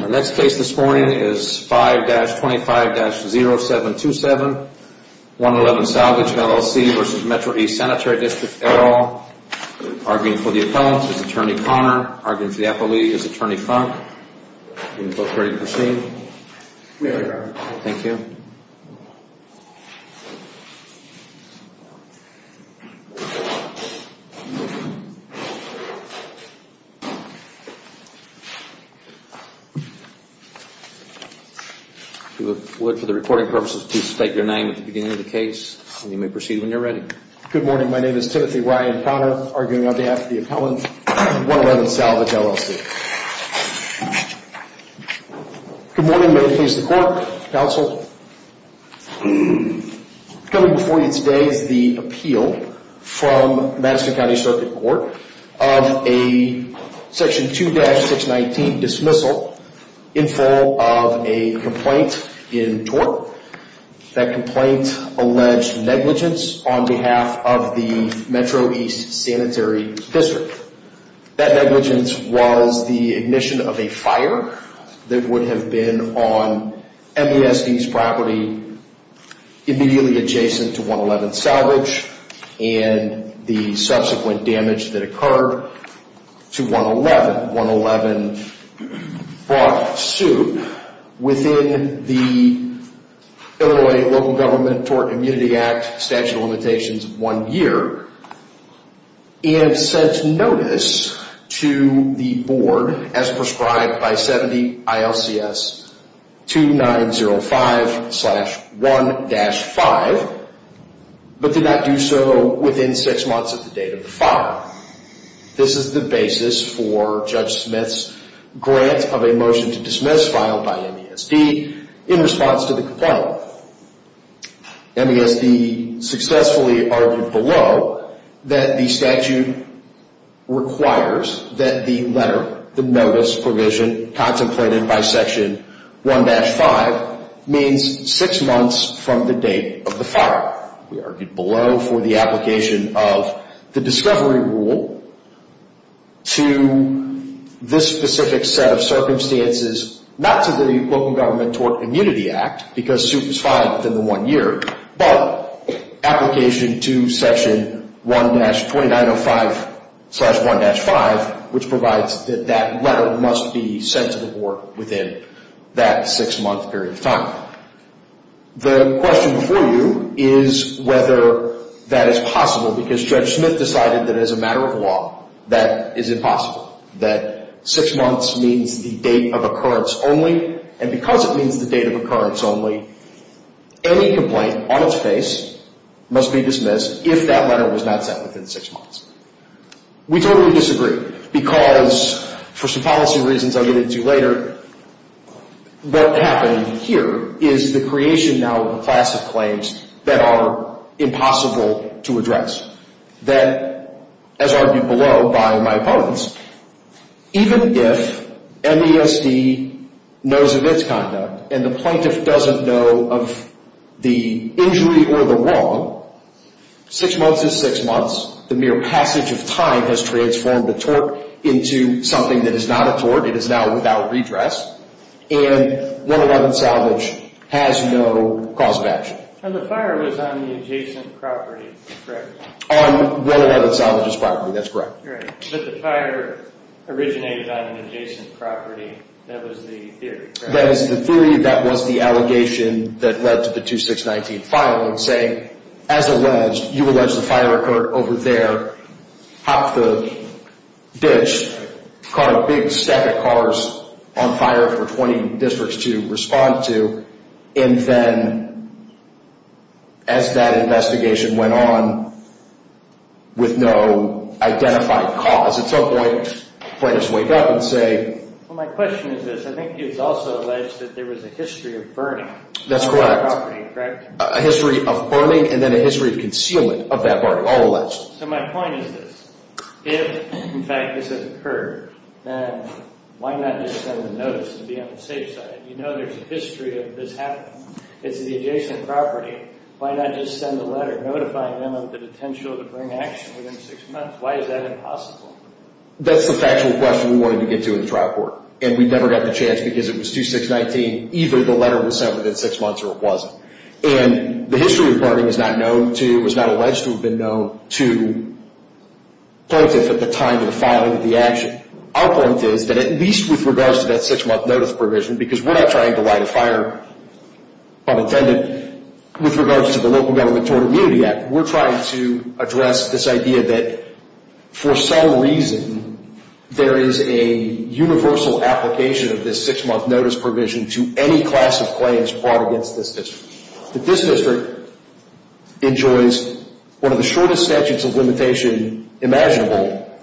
Our next case this morning is 5-25-0727, 111 Salvage, LLC v. Metro East Sanitary District, et al. Arguing for the appellant is Attorney Connor. Arguing for the appellee is Attorney Funk. Are you both ready to proceed? We are. Thank you. If you would, for the recording purposes, please state your name at the beginning of the case, and you may proceed when you're ready. Good morning. My name is Timothy Ryan Connor, arguing on behalf of the appellant, 111 Salvage, LLC. Good morning. May it please the Court, Counsel. Coming before you today is the appeal from Madison County Circuit Court of a Section 2-619 dismissal in full of a complaint in tort. That complaint alleged negligence on behalf of the Metro East Sanitary District. That negligence was the ignition of a fire that would have been on MESD's property immediately adjacent to 111 Salvage and the subsequent damage that occurred to 111. 111 brought suit within the Illinois Local Government Tort Immunity Act Statute of Limitations one year and sent notice to the board as prescribed by 70 ILCS 2905-1-5, but did not do so within six months of the date of the fire. This is the basis for Judge Smith's grant of a motion to dismiss filed by MESD in response to the complaint. MESD successfully argued below that the statute requires that the letter, the notice provision contemplated by Section 1-5, means six months from the date of the fire. We argued below for the application of the discovery rule to this specific set of circumstances, not to the Local Government Tort Immunity Act, because suit was filed within the one year, but application to Section 1-2905-1-5, which provides that that letter must be sent to the board within that six month period of time. The question for you is whether that is possible, because Judge Smith decided that as a matter of law, that is impossible, that six months means the date of occurrence only, and because it means the date of occurrence only, any complaint on its face must be dismissed if that letter was not sent within six months. We totally disagree, because for some policy reasons I'll get into later, what happened here is the creation now of a class of claims that are impossible to address, that, as argued below by my opponents, even if MESD knows of its conduct and the plaintiff doesn't know of the injury or the wrong, six months is six months. The mere passage of time has transformed a tort into something that is not a tort. It is now without redress, and 111 Salvage has no cause of action. And the fire was on the adjacent property, correct? On 111 Salvage's property, that's correct. Right, but the fire originated on an adjacent property. That was the theory, correct? Well, my question is this, I think it's also alleged that there was a history of burning on that property, correct? A history of burning and then a history of concealment of that burning, all alleged. So my point is this, if, in fact, this has occurred, then why not just send a notice and be on the safe side? You know there's a history of this happening. It's the adjacent property. Why not just send a letter notifying them of the potential to bring action within six months? Why is that impossible? That's the factual question we wanted to get to in the trial court, and we never got the chance because it was 2619. Either the letter was sent within six months or it wasn't. And the history of burning is not known to, was not alleged to have been known to plaintiff at the time of the filing of the action. Our point is that at least with regards to that six-month notice provision, because we're not trying to light a fire on intended, with regards to the Local Government Tort Immunity Act, we're trying to address this idea that for some reason there is a universal application of this six-month notice provision to any class of claims brought against this district. That this district enjoys one of the shortest statutes of limitation imaginable,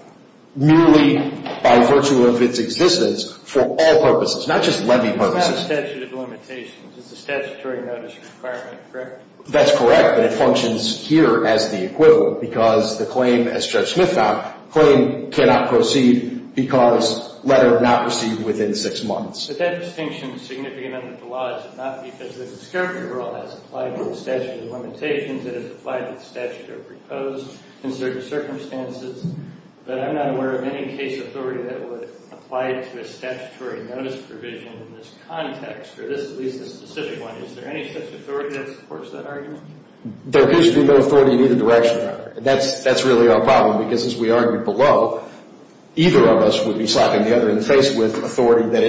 merely by virtue of its existence, for all purposes, not just levy purposes. It's not a statute of limitations. It's a statutory notice requirement, correct? That's correct, but it functions here as the equivalent because the claim, as Judge Smith found, the claim cannot proceed because letter not received within six months. But that distinction is significant under the law. It's not because the discovery rule has applied to the statute of limitations. It has applied to the statute of proposed in certain circumstances, but I'm not aware of any case authority that would apply to a statutory notice provision in this context, or at least this specific one. Is there any such authority that supports that argument? There appears to be no authority in either direction. That's really our problem because, as we argued below, either of us would be slapping the other in the face with authority that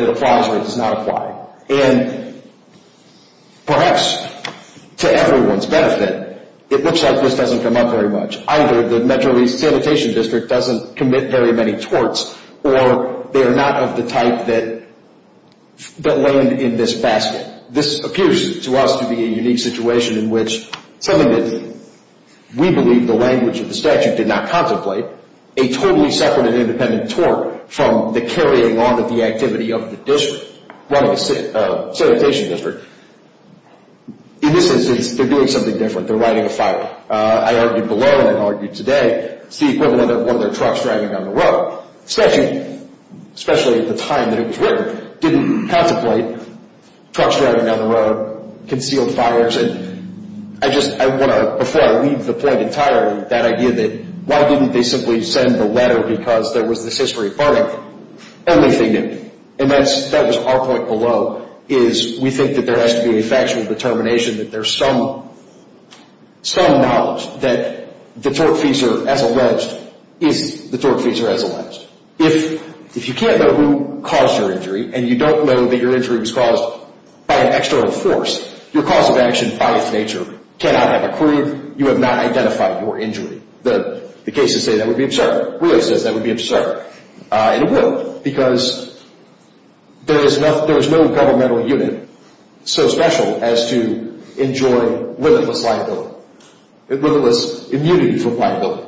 it applies or it does not apply. And perhaps to everyone's benefit, it looks like this doesn't come up very much. Either the Metro East Sanitation District doesn't commit very many torts, or they are not of the type that land in this basket. And this appears to us to be a unique situation in which something that we believe the language of the statute did not contemplate, a totally separate and independent tort from the carrying on of the activity of the district, running a sanitation district. In this instance, they're doing something different. They're riding a fire. I argued below, and I've argued today, it's the equivalent of one of their trucks driving down the road. The statute, especially at the time that it was written, didn't contemplate trucks driving down the road, concealed fires. And I just want to, before I leave the point entirely, that idea that, why didn't they simply send the letter because there was this history of bargaining? The only thing that, and that was our point below, is we think that there has to be a factual determination, that there's some knowledge that the tortfeasor, as alleged, is the tortfeasor, as alleged. If you can't know who caused your injury, and you don't know that your injury was caused by an external force, your cause of action, by its nature, cannot have occurred. You have not identified your injury. The cases say that would be absurd. And it would, because there is no governmental unit so special as to enjoy limitless liability. Limitless immunity from liability,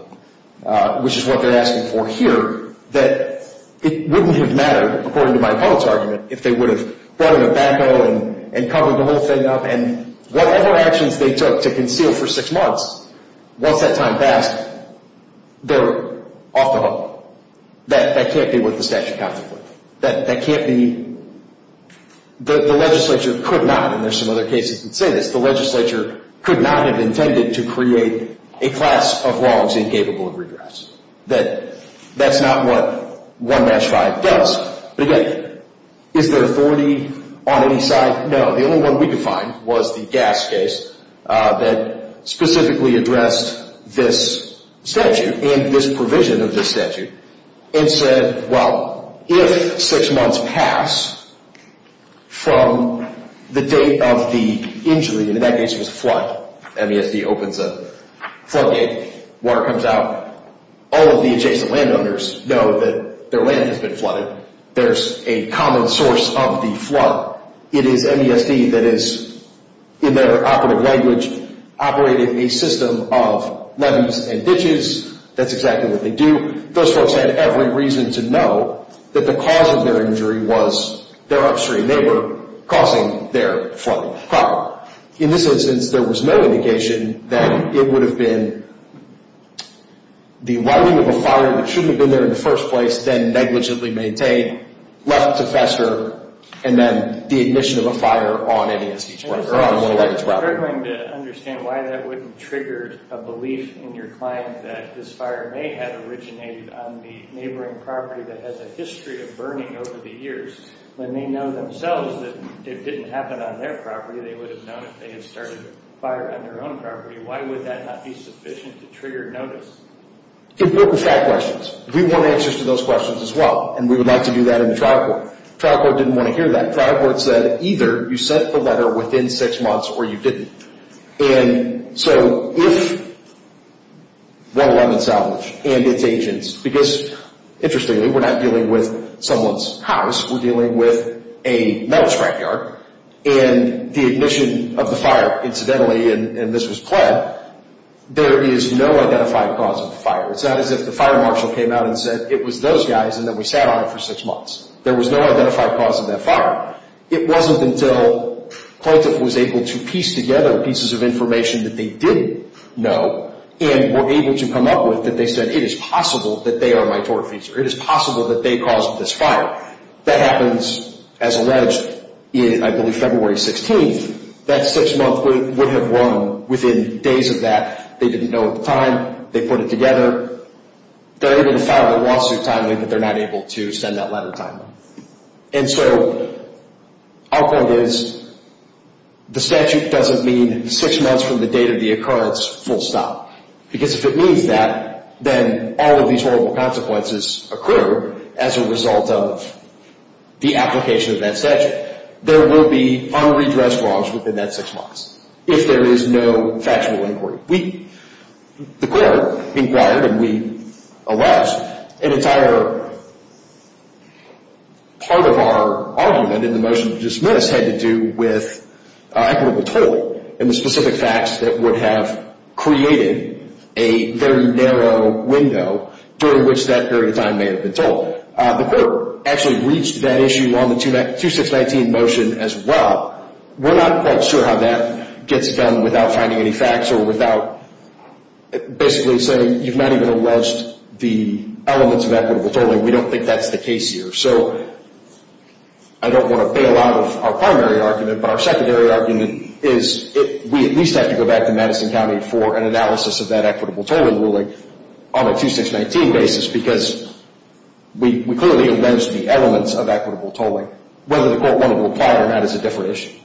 which is what they're asking for here, that it wouldn't have mattered, according to my public's argument, if they would have brought in a backhoe and covered the whole thing up, and whatever actions they took to conceal for six months, once that time passed, they're off the hook. That can't be what the statute counts it with. That can't be, the legislature could not, and there's some other cases that say this, the legislature could not have intended to create a class of wrongs incapable of redress. That's not what 1-5 does. But again, is there authority on any side? No. The only one we could find was the gas case that specifically addressed this statute and this provision of this statute and said, well, if six months pass from the date of the injury, and in that case it was a flood, MESD opens a flood gate, water comes out, all of the adjacent landowners know that their land has been flooded. There's a common source of the flood. It is MESD that is, in their operative language, operating a system of levees and ditches. That's exactly what they do. Those folks had every reason to know that the cause of their injury was their upstream neighbor causing their flood. In this instance, there was no indication that it would have been the lighting of a fire that shouldn't have been there in the first place, then negligently maintained, left to fester, and then the ignition of a fire on any of these properties. We're going to understand why that wouldn't trigger a belief in your client that this fire may have originated on the neighboring property that has a history of burning over the years when they know themselves that it didn't happen on their property. They would have known if they had started a fire on their own property. Why would that not be sufficient to trigger notice? Important fact questions. We want answers to those questions as well, and we would like to do that in the trial court. Trial court didn't want to hear that. Trial court said either you sent the letter within six months or you didn't. If 111 salvage and its agents, because interestingly, we're not dealing with someone's house. We're dealing with a metal scrapyard, and the ignition of the fire, incidentally, and this was planned, there is no identified cause of the fire. It's not as if the fire marshal came out and said it was those guys and then we sat on it for six months. There was no identified cause of that fire. It wasn't until plaintiff was able to piece together pieces of information that they didn't know and were able to come up with that they said it is possible that they are my tortfeasor. It is possible that they caused this fire. That happens, as alleged, I believe February 16th. That six month would have run within days of that. They didn't know the time. They put it together. They're able to file a lawsuit timely, but they're not able to send that letter timely. And so our point is the statute doesn't mean six months from the date of the occurrence, full stop. Because if it means that, then all of these horrible consequences occur as a result of the application of that statute. There will be unredressed wrongs within that six months if there is no factual inquiry. We, the court, inquired and we allowed an entire part of our argument in the motion to dismiss had to do with equitable tolling and the specific facts that would have created a very narrow window during which that period of time may have been told. The court actually reached that issue on the 2619 motion as well. We're not quite sure how that gets done without finding any facts or without basically saying you've not even alleged the elements of equitable tolling. We don't think that's the case here. So I don't want to bail out of our primary argument, but our secondary argument is we at least have to go back to Madison County for an analysis of that equitable tolling ruling on a 2619 basis because we clearly alleged the elements of equitable tolling. Whether the court wanted to apply it or not is a different issue.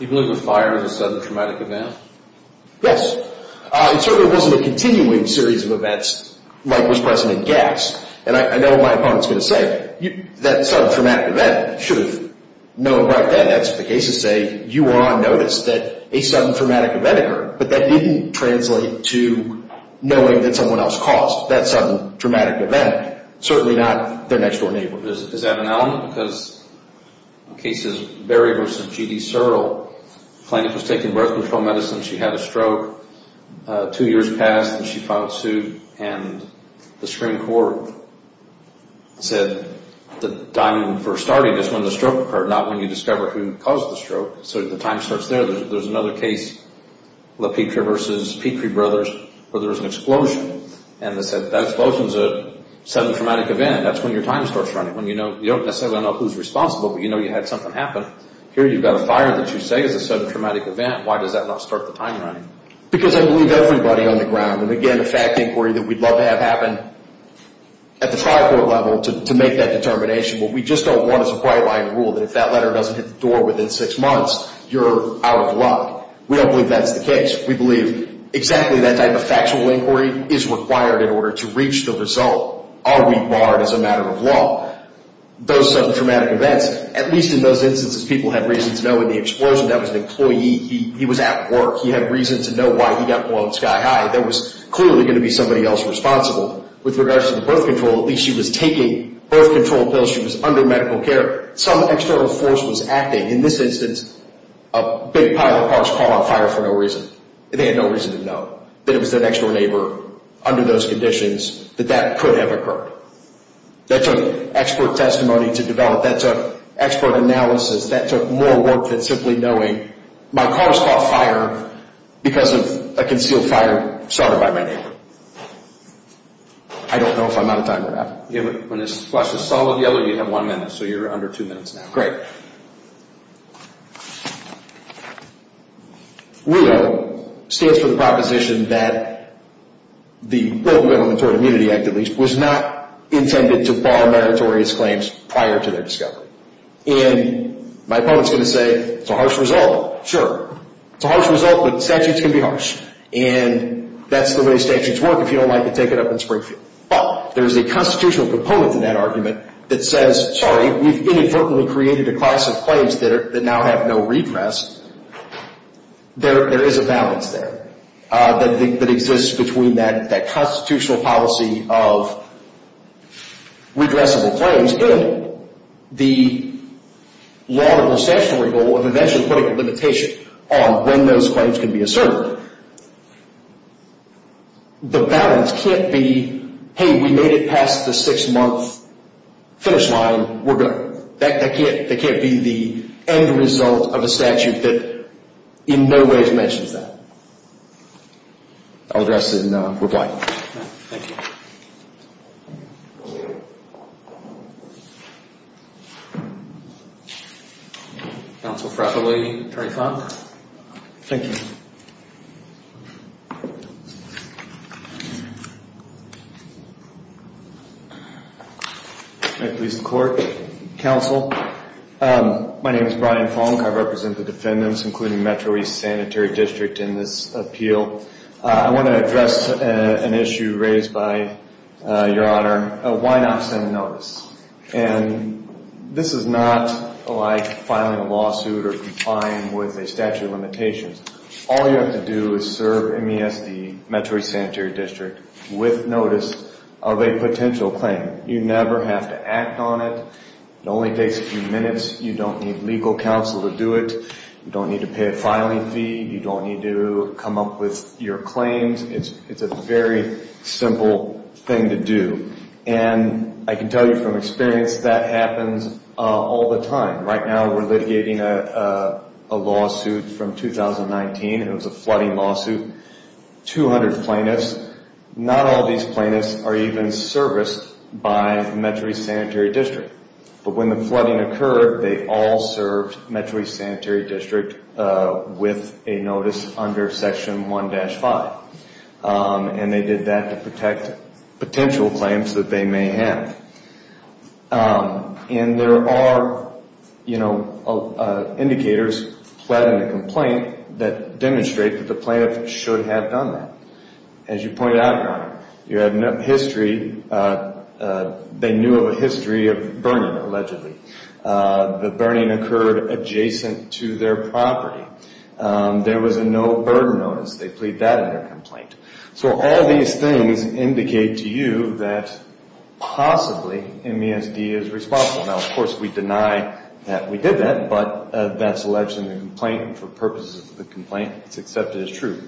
Even if the fire is a sudden traumatic event? Yes. It certainly wasn't a continuing series of events like was present in Gass. And I know what my opponent is going to say. That sudden traumatic event, you should have known about that. That's what the cases say. You were on notice that a sudden traumatic event occurred, but that didn't translate to knowing that someone else caused that sudden traumatic event. Certainly not their next-door neighbor. Is that an element? Because the case is Berry v. G.D. Searle. The plaintiff was taking birth control medicine. She had a stroke. Two years passed, and she filed suit, and the Supreme Court said the time for starting is when the stroke occurred, not when you discover who caused the stroke. So the time starts there. There's another case, LaPetre v. Petrie Brothers, where there was an explosion, and they said that explosion is a sudden traumatic event. That's when your time starts running. You don't necessarily know who's responsible, but you know you had something happen. Here you've got a fire that you say is a sudden traumatic event. Why does that not start the time running? Because I believe everybody on the ground, and again, a fact inquiry that we'd love to have happen at the tri-court level to make that determination. What we just don't want is a bright-line rule that if that letter doesn't hit the door within six months, you're out of luck. We don't believe that's the case. We believe exactly that type of factual inquiry is required in order to reach the result. Are we barred as a matter of law? Those sudden traumatic events, at least in those instances, people have reason to know in the explosion that was an employee. He was at work. He had reason to know why he got blown sky high. That was clearly going to be somebody else responsible. With regards to the birth control, at least she was taking birth control pills. She was under medical care. Some external force was acting. In this instance, a big pile of parts caught on fire for no reason. They had no reason to know that it was their next-door neighbor under those conditions, that that could have occurred. That took expert testimony to develop. That took expert analysis. That took more work than simply knowing my car was caught on fire because of a concealed fire started by my neighbor. I don't know if I'm out of time or not. When this flash is solid yellow, you have one minute. So you're under two minutes now. Great. WIOA stands for the proposition that the Welfare Elementary Immunity Act, at least, is not intended to bar meritorious claims prior to their discovery. And my opponent's going to say, it's a harsh result. Sure. It's a harsh result, but statutes can be harsh. And that's the way statutes work if you don't like it, take it up in Springfield. But there's a constitutional component to that argument that says, sorry, we've inadvertently created a class of claims that now have no redress. There is a balance there that exists between that constitutional policy of redressable claims and the law and the statutory goal of eventually putting a limitation on when those claims can be asserted. The balance can't be, hey, we made it past the six-month finish line. That can't be the end result of a statute that in no way mentions that. I'll address it in reply. Thank you. Counsel Frappellini, 25. Thank you. May it please the Court. Counsel, my name is Brian Fonk. I represent the defendants, including Metro East Sanitary District in this appeal. I want to address an issue raised by Your Honor, why not send a notice? And this is not like filing a lawsuit or complying with a statute of limitations. All you have to do is serve MESD, Metro East Sanitary District, with notice of a potential claim. You never have to act on it. It only takes a few minutes. You don't need legal counsel to do it. You don't need to pay a filing fee. You don't need to come up with your claims. It's a very simple thing to do. And I can tell you from experience that happens all the time. Right now we're litigating a lawsuit from 2019. It was a flooding lawsuit, 200 plaintiffs. Not all these plaintiffs are even serviced by Metro East Sanitary District. But when the flooding occurred, they all served Metro East Sanitary District with a notice under Section 1-5. And they did that to protect potential claims that they may have. And there are, you know, indicators pled in a complaint that demonstrate that the plaintiff should have done that. As you pointed out, Your Honor, you have no history. They knew of a history of burning, allegedly. The burning occurred adjacent to their property. There was a no-burden notice. They plead that in their complaint. So all these things indicate to you that possibly MESD is responsible. Now, of course, we deny that we did that, but that's alleged in the complaint. For purposes of the complaint, it's accepted as true.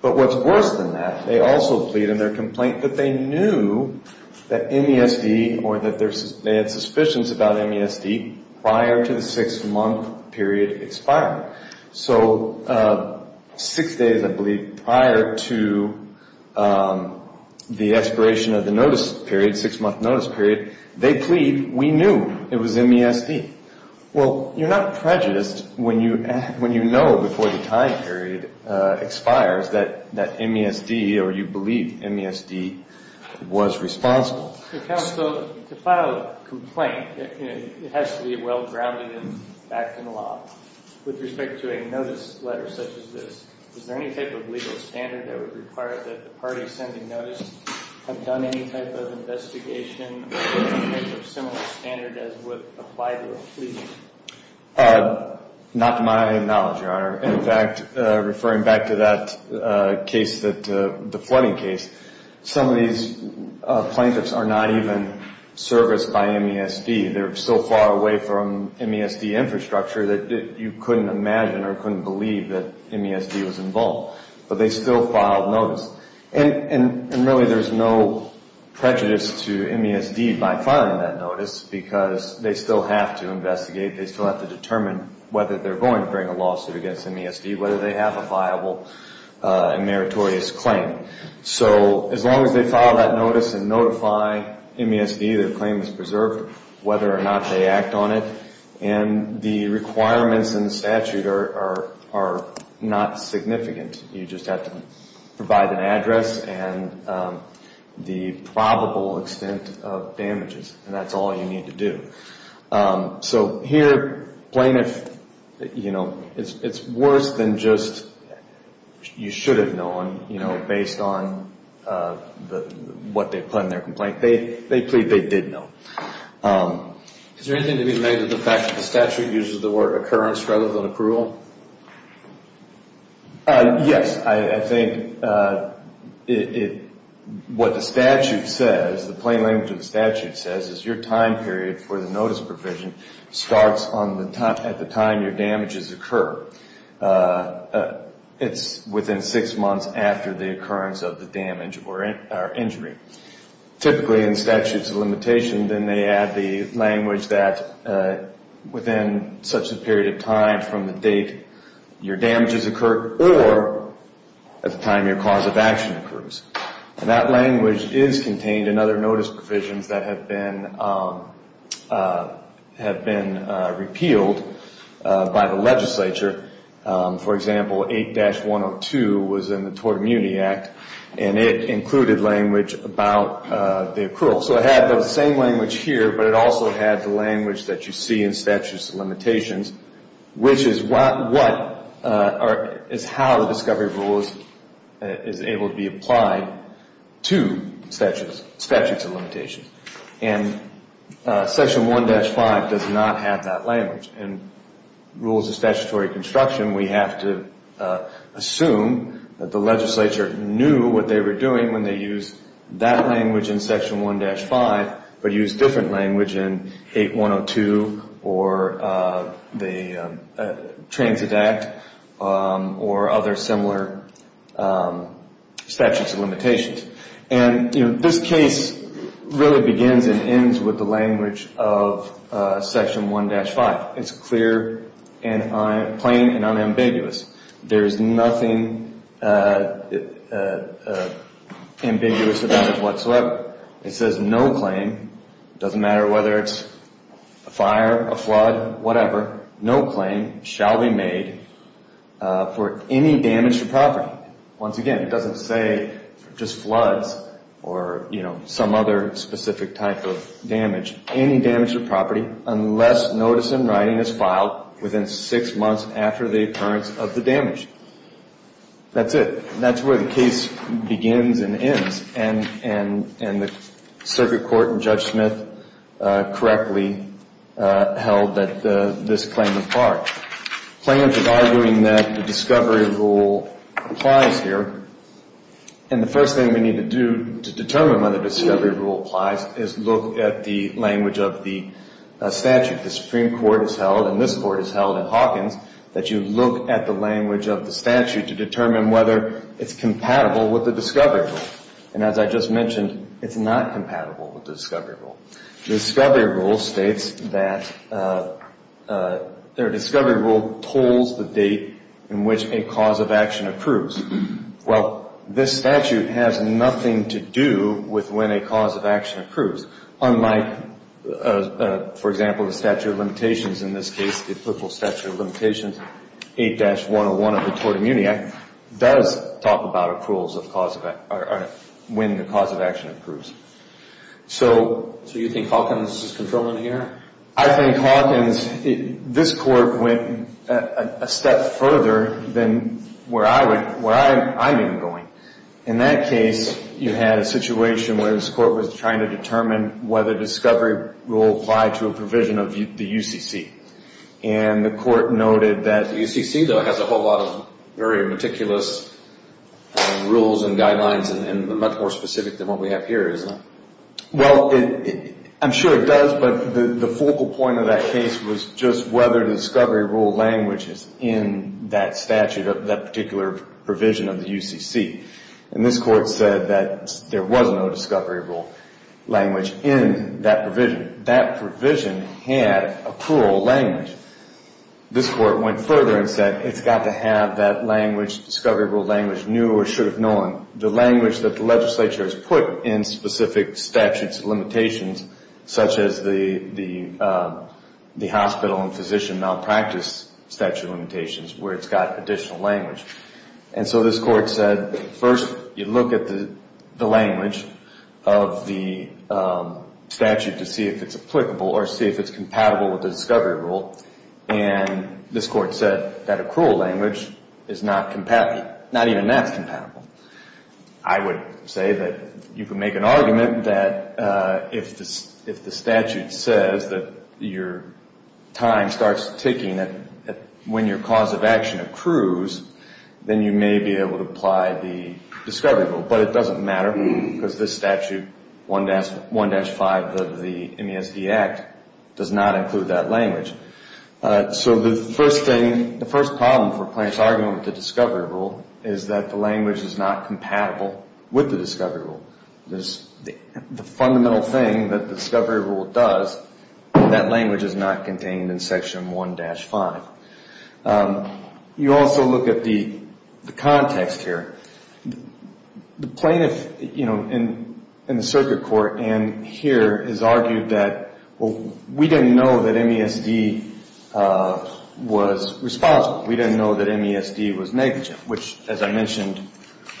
But what's worse than that, they also plead in their complaint that they knew that MESD or that they had suspicions about MESD prior to the six-month period expiring. So six days, I believe, prior to the expiration of the notice period, six-month notice period, they plead we knew it was MESD. Well, you're not prejudiced when you know before the time period expires that MESD or you believe MESD was responsible. Counsel, to file a complaint, it has to be well-grounded in fact and law. With respect to a notice letter such as this, is there any type of legal standard that would require that the party sending notice have done any type of investigation or any type of similar standard as would apply to a plea? Not to my knowledge, Your Honor. In fact, referring back to that case, the flooding case, some of these plaintiffs are not even serviced by MESD. They're so far away from MESD infrastructure that you couldn't imagine or couldn't believe that MESD was involved. But they still filed notice. And really, there's no prejudice to MESD by filing that notice because they still have to investigate. They still have to determine whether they're going to bring a lawsuit against MESD, whether they have a viable and meritorious claim. So as long as they file that notice and notify MESD their claim is preserved, whether or not they act on it, and the requirements in the statute are not significant. You just have to provide an address and the probable extent of damages. And that's all you need to do. So here, plaintiff, you know, it's worse than just you should have known, you know, based on what they put in their complaint. They plead they did know. Is there anything to be made of the fact that the statute uses the word occurrence rather than approval? Yes. I think what the statute says, the plain language of the statute says, is your time period for the notice provision starts at the time your damages occur. It's within six months after the occurrence of the damage or injury. Typically in statutes of limitation, then they add the language that within such a period of time from the date your damages occur or at the time your cause of action occurs. And that language is contained in other notice provisions that have been repealed by the legislature. For example, 8-102 was in the Tort Immunity Act, and it included language about the accrual. So it had the same language here, but it also had the language that you see in statutes of limitations, which is how the discovery rule is able to be applied to statutes of limitations. And Section 1-5 does not have that language. In rules of statutory construction, we have to assume that the legislature knew what they were doing when they used that language in Section 1-5, but used different language in 8-102 or the Transit Act or other similar statutes of limitations. And this case really begins and ends with the language of Section 1-5. It's clear and plain and unambiguous. There's nothing ambiguous about it whatsoever. It says no claim. It doesn't matter whether it's a fire, a flood, whatever. No claim shall be made for any damage to property. Once again, it doesn't say just floods or, you know, some other specific type of damage. Any damage to property unless notice in writing is filed within six months after the occurrence of the damage. That's it. That's where the case begins and ends, and the circuit court and Judge Smith correctly held that this claim was barred. Plaintiffs are arguing that the discovery rule applies here, and the first thing we need to do to determine whether the discovery rule applies is look at the language of the statute. The Supreme Court has held, and this Court has held in Hawkins, that you look at the language of the statute to determine whether it's compatible with the discovery rule. And as I just mentioned, it's not compatible with the discovery rule. The discovery rule states that their discovery rule tolls the date in which a cause of action approves. Well, this statute has nothing to do with when a cause of action approves, unlike, for example, the statute of limitations. In this case, the applicable statute of limitations, 8-101 of the Tort Immunity Act, does talk about approvals when the cause of action approves. So you think Hawkins is controlling here? I think Hawkins, this Court went a step further than where I'm even going. In that case, you had a situation where this Court was trying to determine whether discovery rule applied to a provision of the UCC. And the Court noted that the UCC, though, has a whole lot of very meticulous rules and guidelines, and they're much more specific than what we have here, isn't it? Well, I'm sure it does, but the focal point of that case was just whether the discovery rule language is in that statute, that particular provision of the UCC. And this Court said that there was no discovery rule language in that provision. That provision had a plural language. This Court went further and said it's got to have that language, discovery rule language, new or should have known. The language that the legislature has put in specific statutes and limitations, such as the hospital and physician malpractice statute limitations, where it's got additional language. And so this Court said, first, you look at the language of the statute to see if it's applicable or see if it's compatible with the discovery rule. And this Court said that accrual language is not compatible. Not even that's compatible. I would say that you could make an argument that if the statute says that your time starts ticking when your cause of action accrues, then you may be able to apply the discovery rule. But it doesn't matter because this statute, 1-5 of the MESD Act, does not include that language. So the first thing, the first problem for plaintiffs arguing with the discovery rule is that the language is not compatible with the discovery rule. The fundamental thing that the discovery rule does, that language is not contained in Section 1-5. You also look at the context here. The plaintiff in the circuit court and here has argued that, well, we didn't know that MESD was responsible. We didn't know that MESD was negligent, which, as I mentioned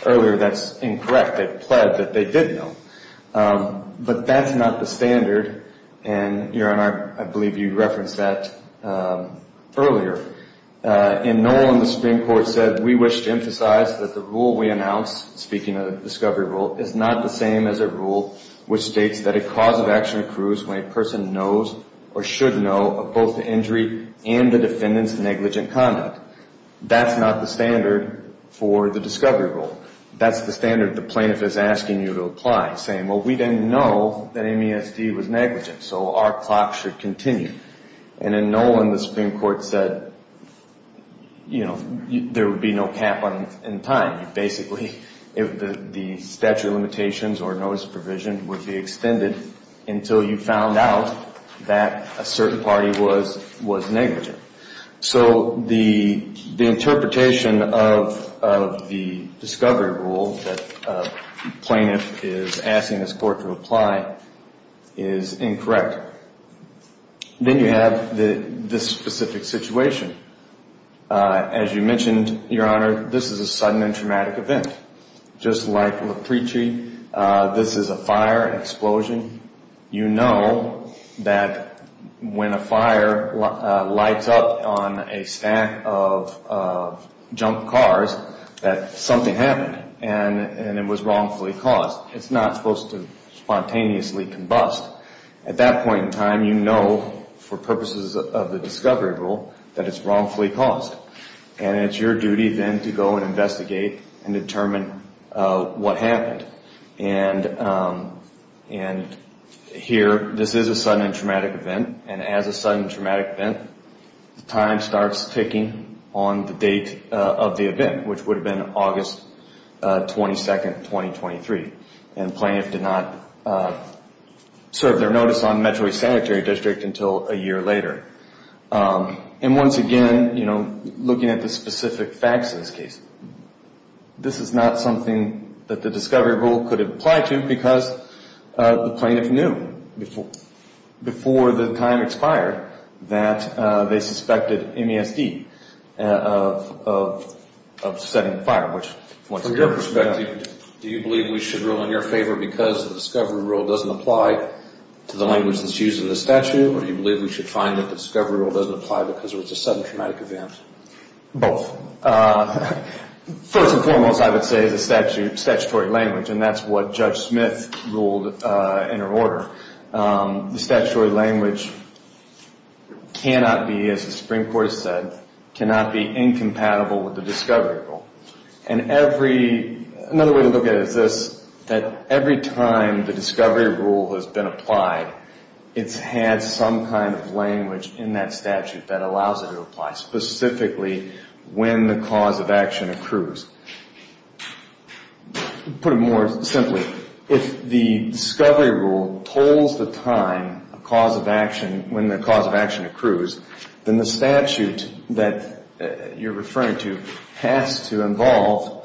earlier, that's incorrect. They've pled that they did know. But that's not the standard, and, Aaron, I believe you referenced that earlier. In Nolan, the Supreme Court said, We wish to emphasize that the rule we announce, speaking of the discovery rule, is not the same as a rule which states that a cause of action accrues when a person knows or should know of both the injury and the defendant's negligent conduct. That's not the standard for the discovery rule. That's the standard the plaintiff is asking you to apply, saying, Well, we didn't know that MESD was negligent, so our clock should continue. And in Nolan, the Supreme Court said there would be no cap in time. Basically, the statute of limitations or notice of provision would be extended until you found out that a certain party was negligent. So the interpretation of the discovery rule that the plaintiff is asking this court to apply is incorrect. Then you have this specific situation. As you mentioned, Your Honor, this is a sudden and traumatic event. Just like LaPreechi, this is a fire, an explosion. You know that when a fire lights up on a stack of junk cars that something happened and it was wrongfully caused. It's not supposed to spontaneously combust. At that point in time, you know for purposes of the discovery rule that it's wrongfully caused. And it's your duty then to go and investigate and determine what happened. And here, this is a sudden and traumatic event. And as a sudden and traumatic event, time starts ticking on the date of the event, which would have been August 22, 2023. And the plaintiff did not serve their notice on the Metro East Sanctuary District until a year later. And once again, you know, looking at the specific facts in this case, this is not something that the discovery rule could apply to because the plaintiff knew before the time expired that they suspected MESD of setting fire. From your perspective, do you believe we should rule in your favor because the discovery rule doesn't apply to the language that's used in the statute, or do you believe we should find that the discovery rule doesn't apply because it was a sudden traumatic event? Both. First and foremost, I would say the statute, statutory language, and that's what Judge Smith ruled in her order. The statutory language cannot be, as the Supreme Court said, cannot be incompatible with the discovery rule. And every, another way to look at it is this, that every time the discovery rule has been applied, it's had some kind of language in that statute that allows it to apply, specifically when the cause of action accrues. Put it more simply, if the discovery rule pulls the time, a cause of action, when the cause of action accrues, then the statute that you're referring to has to involve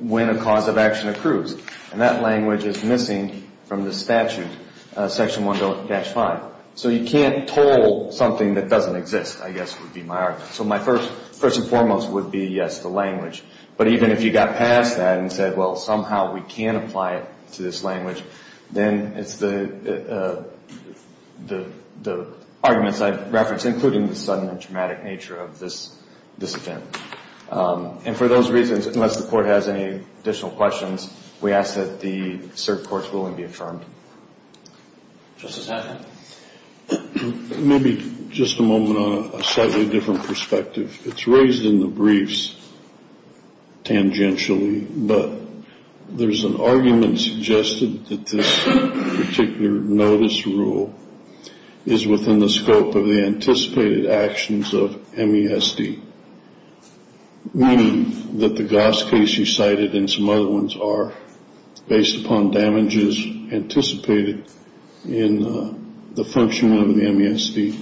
when a cause of action accrues. And that language is missing from the statute, Section 100-5. So you can't toll something that doesn't exist, I guess would be my argument. So my first and foremost would be, yes, the language. But even if you got past that and said, well, somehow we can apply it to this language, then it's the arguments I've referenced, including the sudden and traumatic nature of this event. And for those reasons, unless the court has any additional questions, we ask that the served court's ruling be affirmed. Justice Hannon. Maybe just a moment on a slightly different perspective. It's raised in the briefs tangentially, but there's an argument suggested that this particular notice rule is within the scope of the anticipated actions of MESD. Meaning that the gas case you cited and some other ones are based upon damages anticipated in the function of the MESD,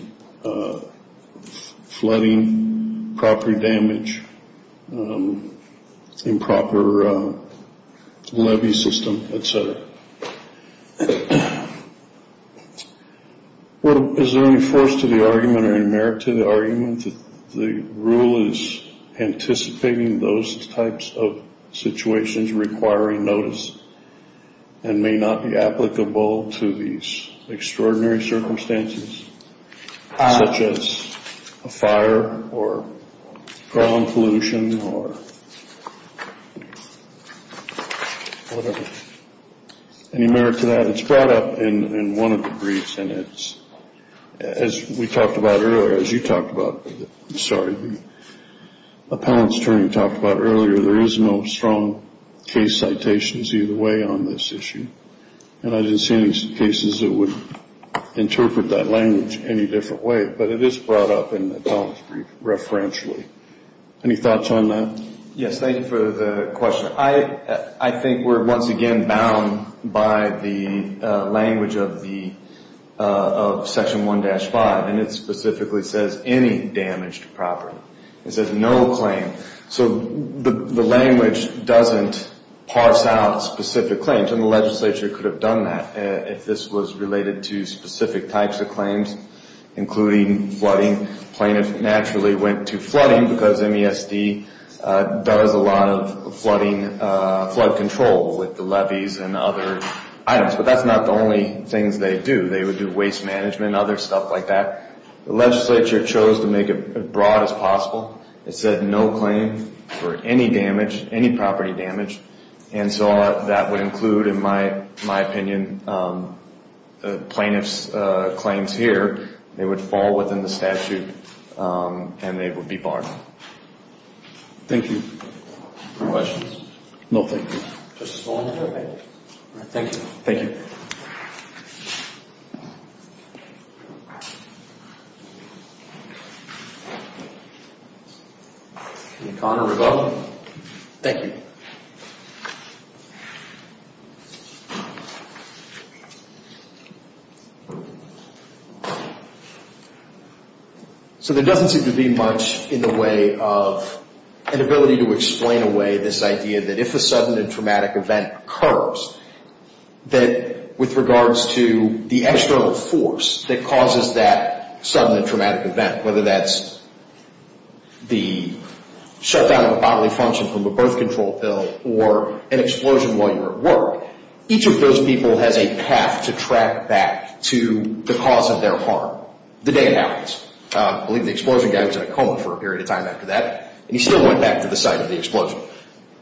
flooding, property damage, improper levy system, et cetera. Is there any force to the argument or merit to the argument that the rule is anticipating those types of situations requiring notice and may not be applicable to these extraordinary circumstances, such as a fire or ground pollution or whatever? Any merit to that? It's brought up in one of the briefs, and it's, as we talked about earlier, as you talked about, I'm sorry, the appellant's attorney talked about earlier, there is no strong case citations either way on this issue. And I didn't see any cases that would interpret that language any different way, but it is brought up in the appellant's brief referentially. Any thoughts on that? Yes, thank you for the question. I think we're once again bound by the language of Section 1-5, and it specifically says any damaged property. It says no claim. So the language doesn't parse out specific claims, and the legislature could have done that if this was related to specific types of claims, including flooding. The plaintiff naturally went to flooding because MESD does a lot of flood control with the levies and other items. But that's not the only things they do. They would do waste management and other stuff like that. The legislature chose to make it as broad as possible. It said no claim for any damage, any property damage. And so that would include, in my opinion, the plaintiff's claims here. They would fall within the statute, and they would be barred. Thank you. Any questions? No, thank you. Thank you. Thank you. Thank you. So there doesn't seem to be much in the way of an ability to explain away this idea that if a sudden and traumatic event occurs, that with regards to the external force that causes that sudden and traumatic event, whether that's the shutdown of a bodily function from a birth control pill or an explosion while you were at work, each of those people has a path to track back to the cause of their harm the day it happens. I believe the explosion guy was in a coma for a period of time after that, and he still went back to the site of the explosion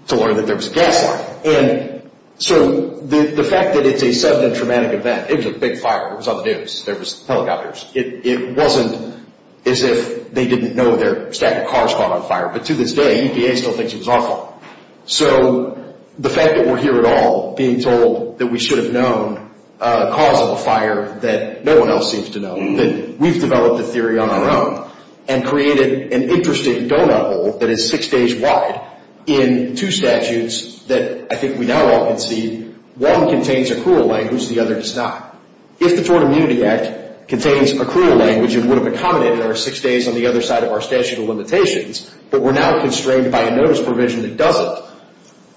to learn that there was a gas line. And so the fact that it's a sudden and traumatic event, it was a big fire. It was on the news. There was helicopters. It wasn't as if they didn't know their stack of cars caught on fire. But to this day, EPA still thinks it was awful. So the fact that we're here at all being told that we should have known the cause of the fire that no one else seems to know, that we've developed a theory on our own and created an interesting doughnut hole that is six days wide in two statutes that I think we now all can see. One contains a cruel language. The other does not. If the Tort Immunity Act contains a cruel language and would have accommodated our six days on the other side of our statute of limitations, but we're now constrained by a notice provision that doesn't,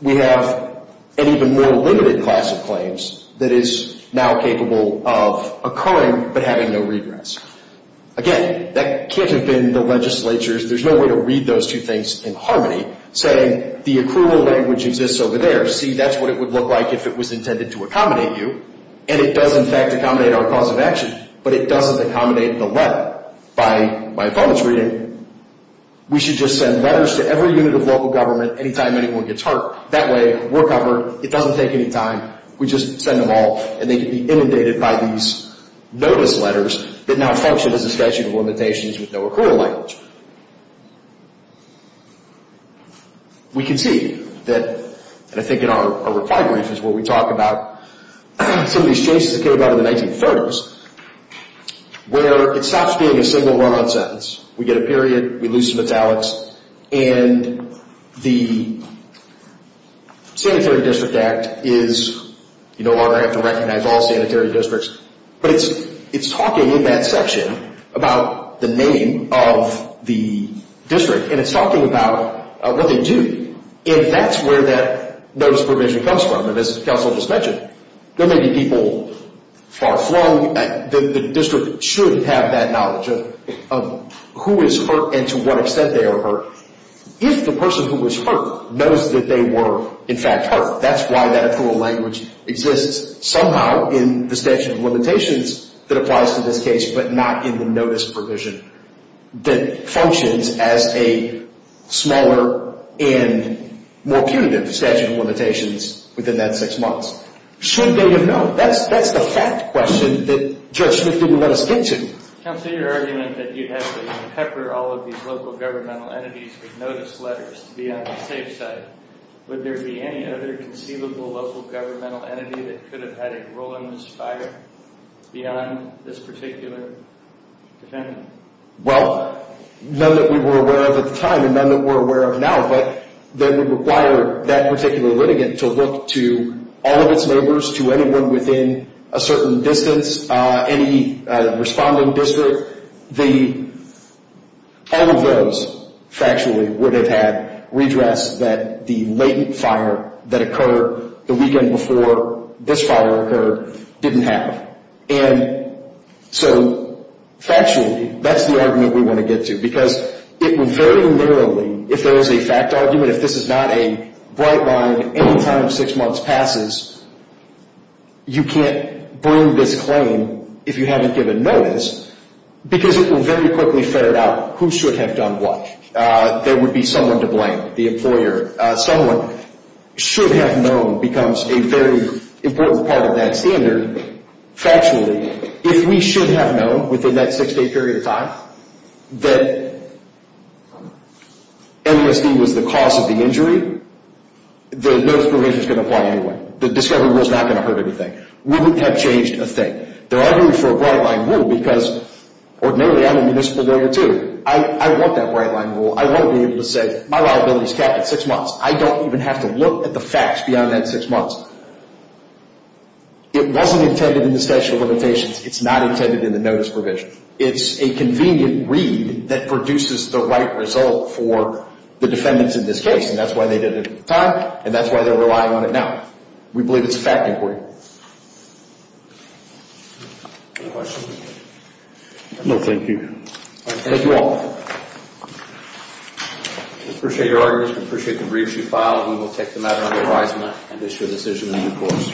we have an even more limited class of claims that is now capable of occurring but having no regress. Again, that can't have been the legislature's. There's no way to read those two things in harmony, saying the accrual language exists over there. See, that's what it would look like if it was intended to accommodate you. And it does, in fact, accommodate our cause of action, but it doesn't accommodate the letter. By bonus reading, we should just send letters to every unit of local government anytime anyone gets hurt. That way, we're covered. It doesn't take any time. We just send them all, and they can be inundated by these notice letters that now function as a statute of limitations with no accrual language. We can see that, and I think in our reply brief is where we talk about some of these changes that came out of the 1930s, where it stops being a single run-on sentence. We get a period. We lose some italics, and the Sanitary District Act is, you no longer have to recognize all sanitary districts, but it's talking in that section about the name of the district, and it's talking about what they do, and that's where that notice provision comes from. And as counsel just mentioned, there may be people far flung. The district should have that knowledge of who is hurt and to what extent they are hurt. If the person who was hurt knows that they were, in fact, hurt, that's why that accrual language exists somehow in the statute of limitations that applies to this case but not in the notice provision that functions as a smaller and more punitive statute of limitations within that six months. Should they have known? That's the fact question that Judge Smith didn't let us get to. Counsel, your argument that you'd have to pepper all of these local governmental entities with notice letters to be on the safe side, would there be any other conceivable local governmental entity that could have had a role in this fire beyond this particular defendant? Well, none that we were aware of at the time and none that we're aware of now, but that would require that particular litigant to look to all of its neighbors, to anyone within a certain distance, any responding district. All of those, factually, would have had redress that the latent fire that occurred the weekend before this fire occurred didn't have. And so, factually, that's the argument we want to get to because it would very literally, if there was a fact argument, that if this is not a bright line any time six months passes, you can't bring this claim if you haven't given notice because it will very quickly ferret out who should have done what. There would be someone to blame, the employer. Someone should have known becomes a very important part of that standard, factually. If we should have known within that six-day period of time that MSD was the cause of the injury, the notice provision is going to apply anyway. The discovery rule is not going to hurt anything. We wouldn't have changed a thing. There are rules for a bright line rule because ordinarily, I'm a municipal lawyer, too. I want that bright line rule. I won't be able to say, my liability is capped at six months. I don't even have to look at the facts beyond that six months. It wasn't intended in the statute of limitations. It's not intended in the notice provision. It's a convenient read that produces the right result for the defendants in this case, and that's why they did it at the time, and that's why they're relying on it now. We believe it's a fact inquiry. Any questions? No, thank you. Thank you all. We appreciate your arguments. We appreciate the briefs you filed. We will take them out on the horizon and issue a decision in due course.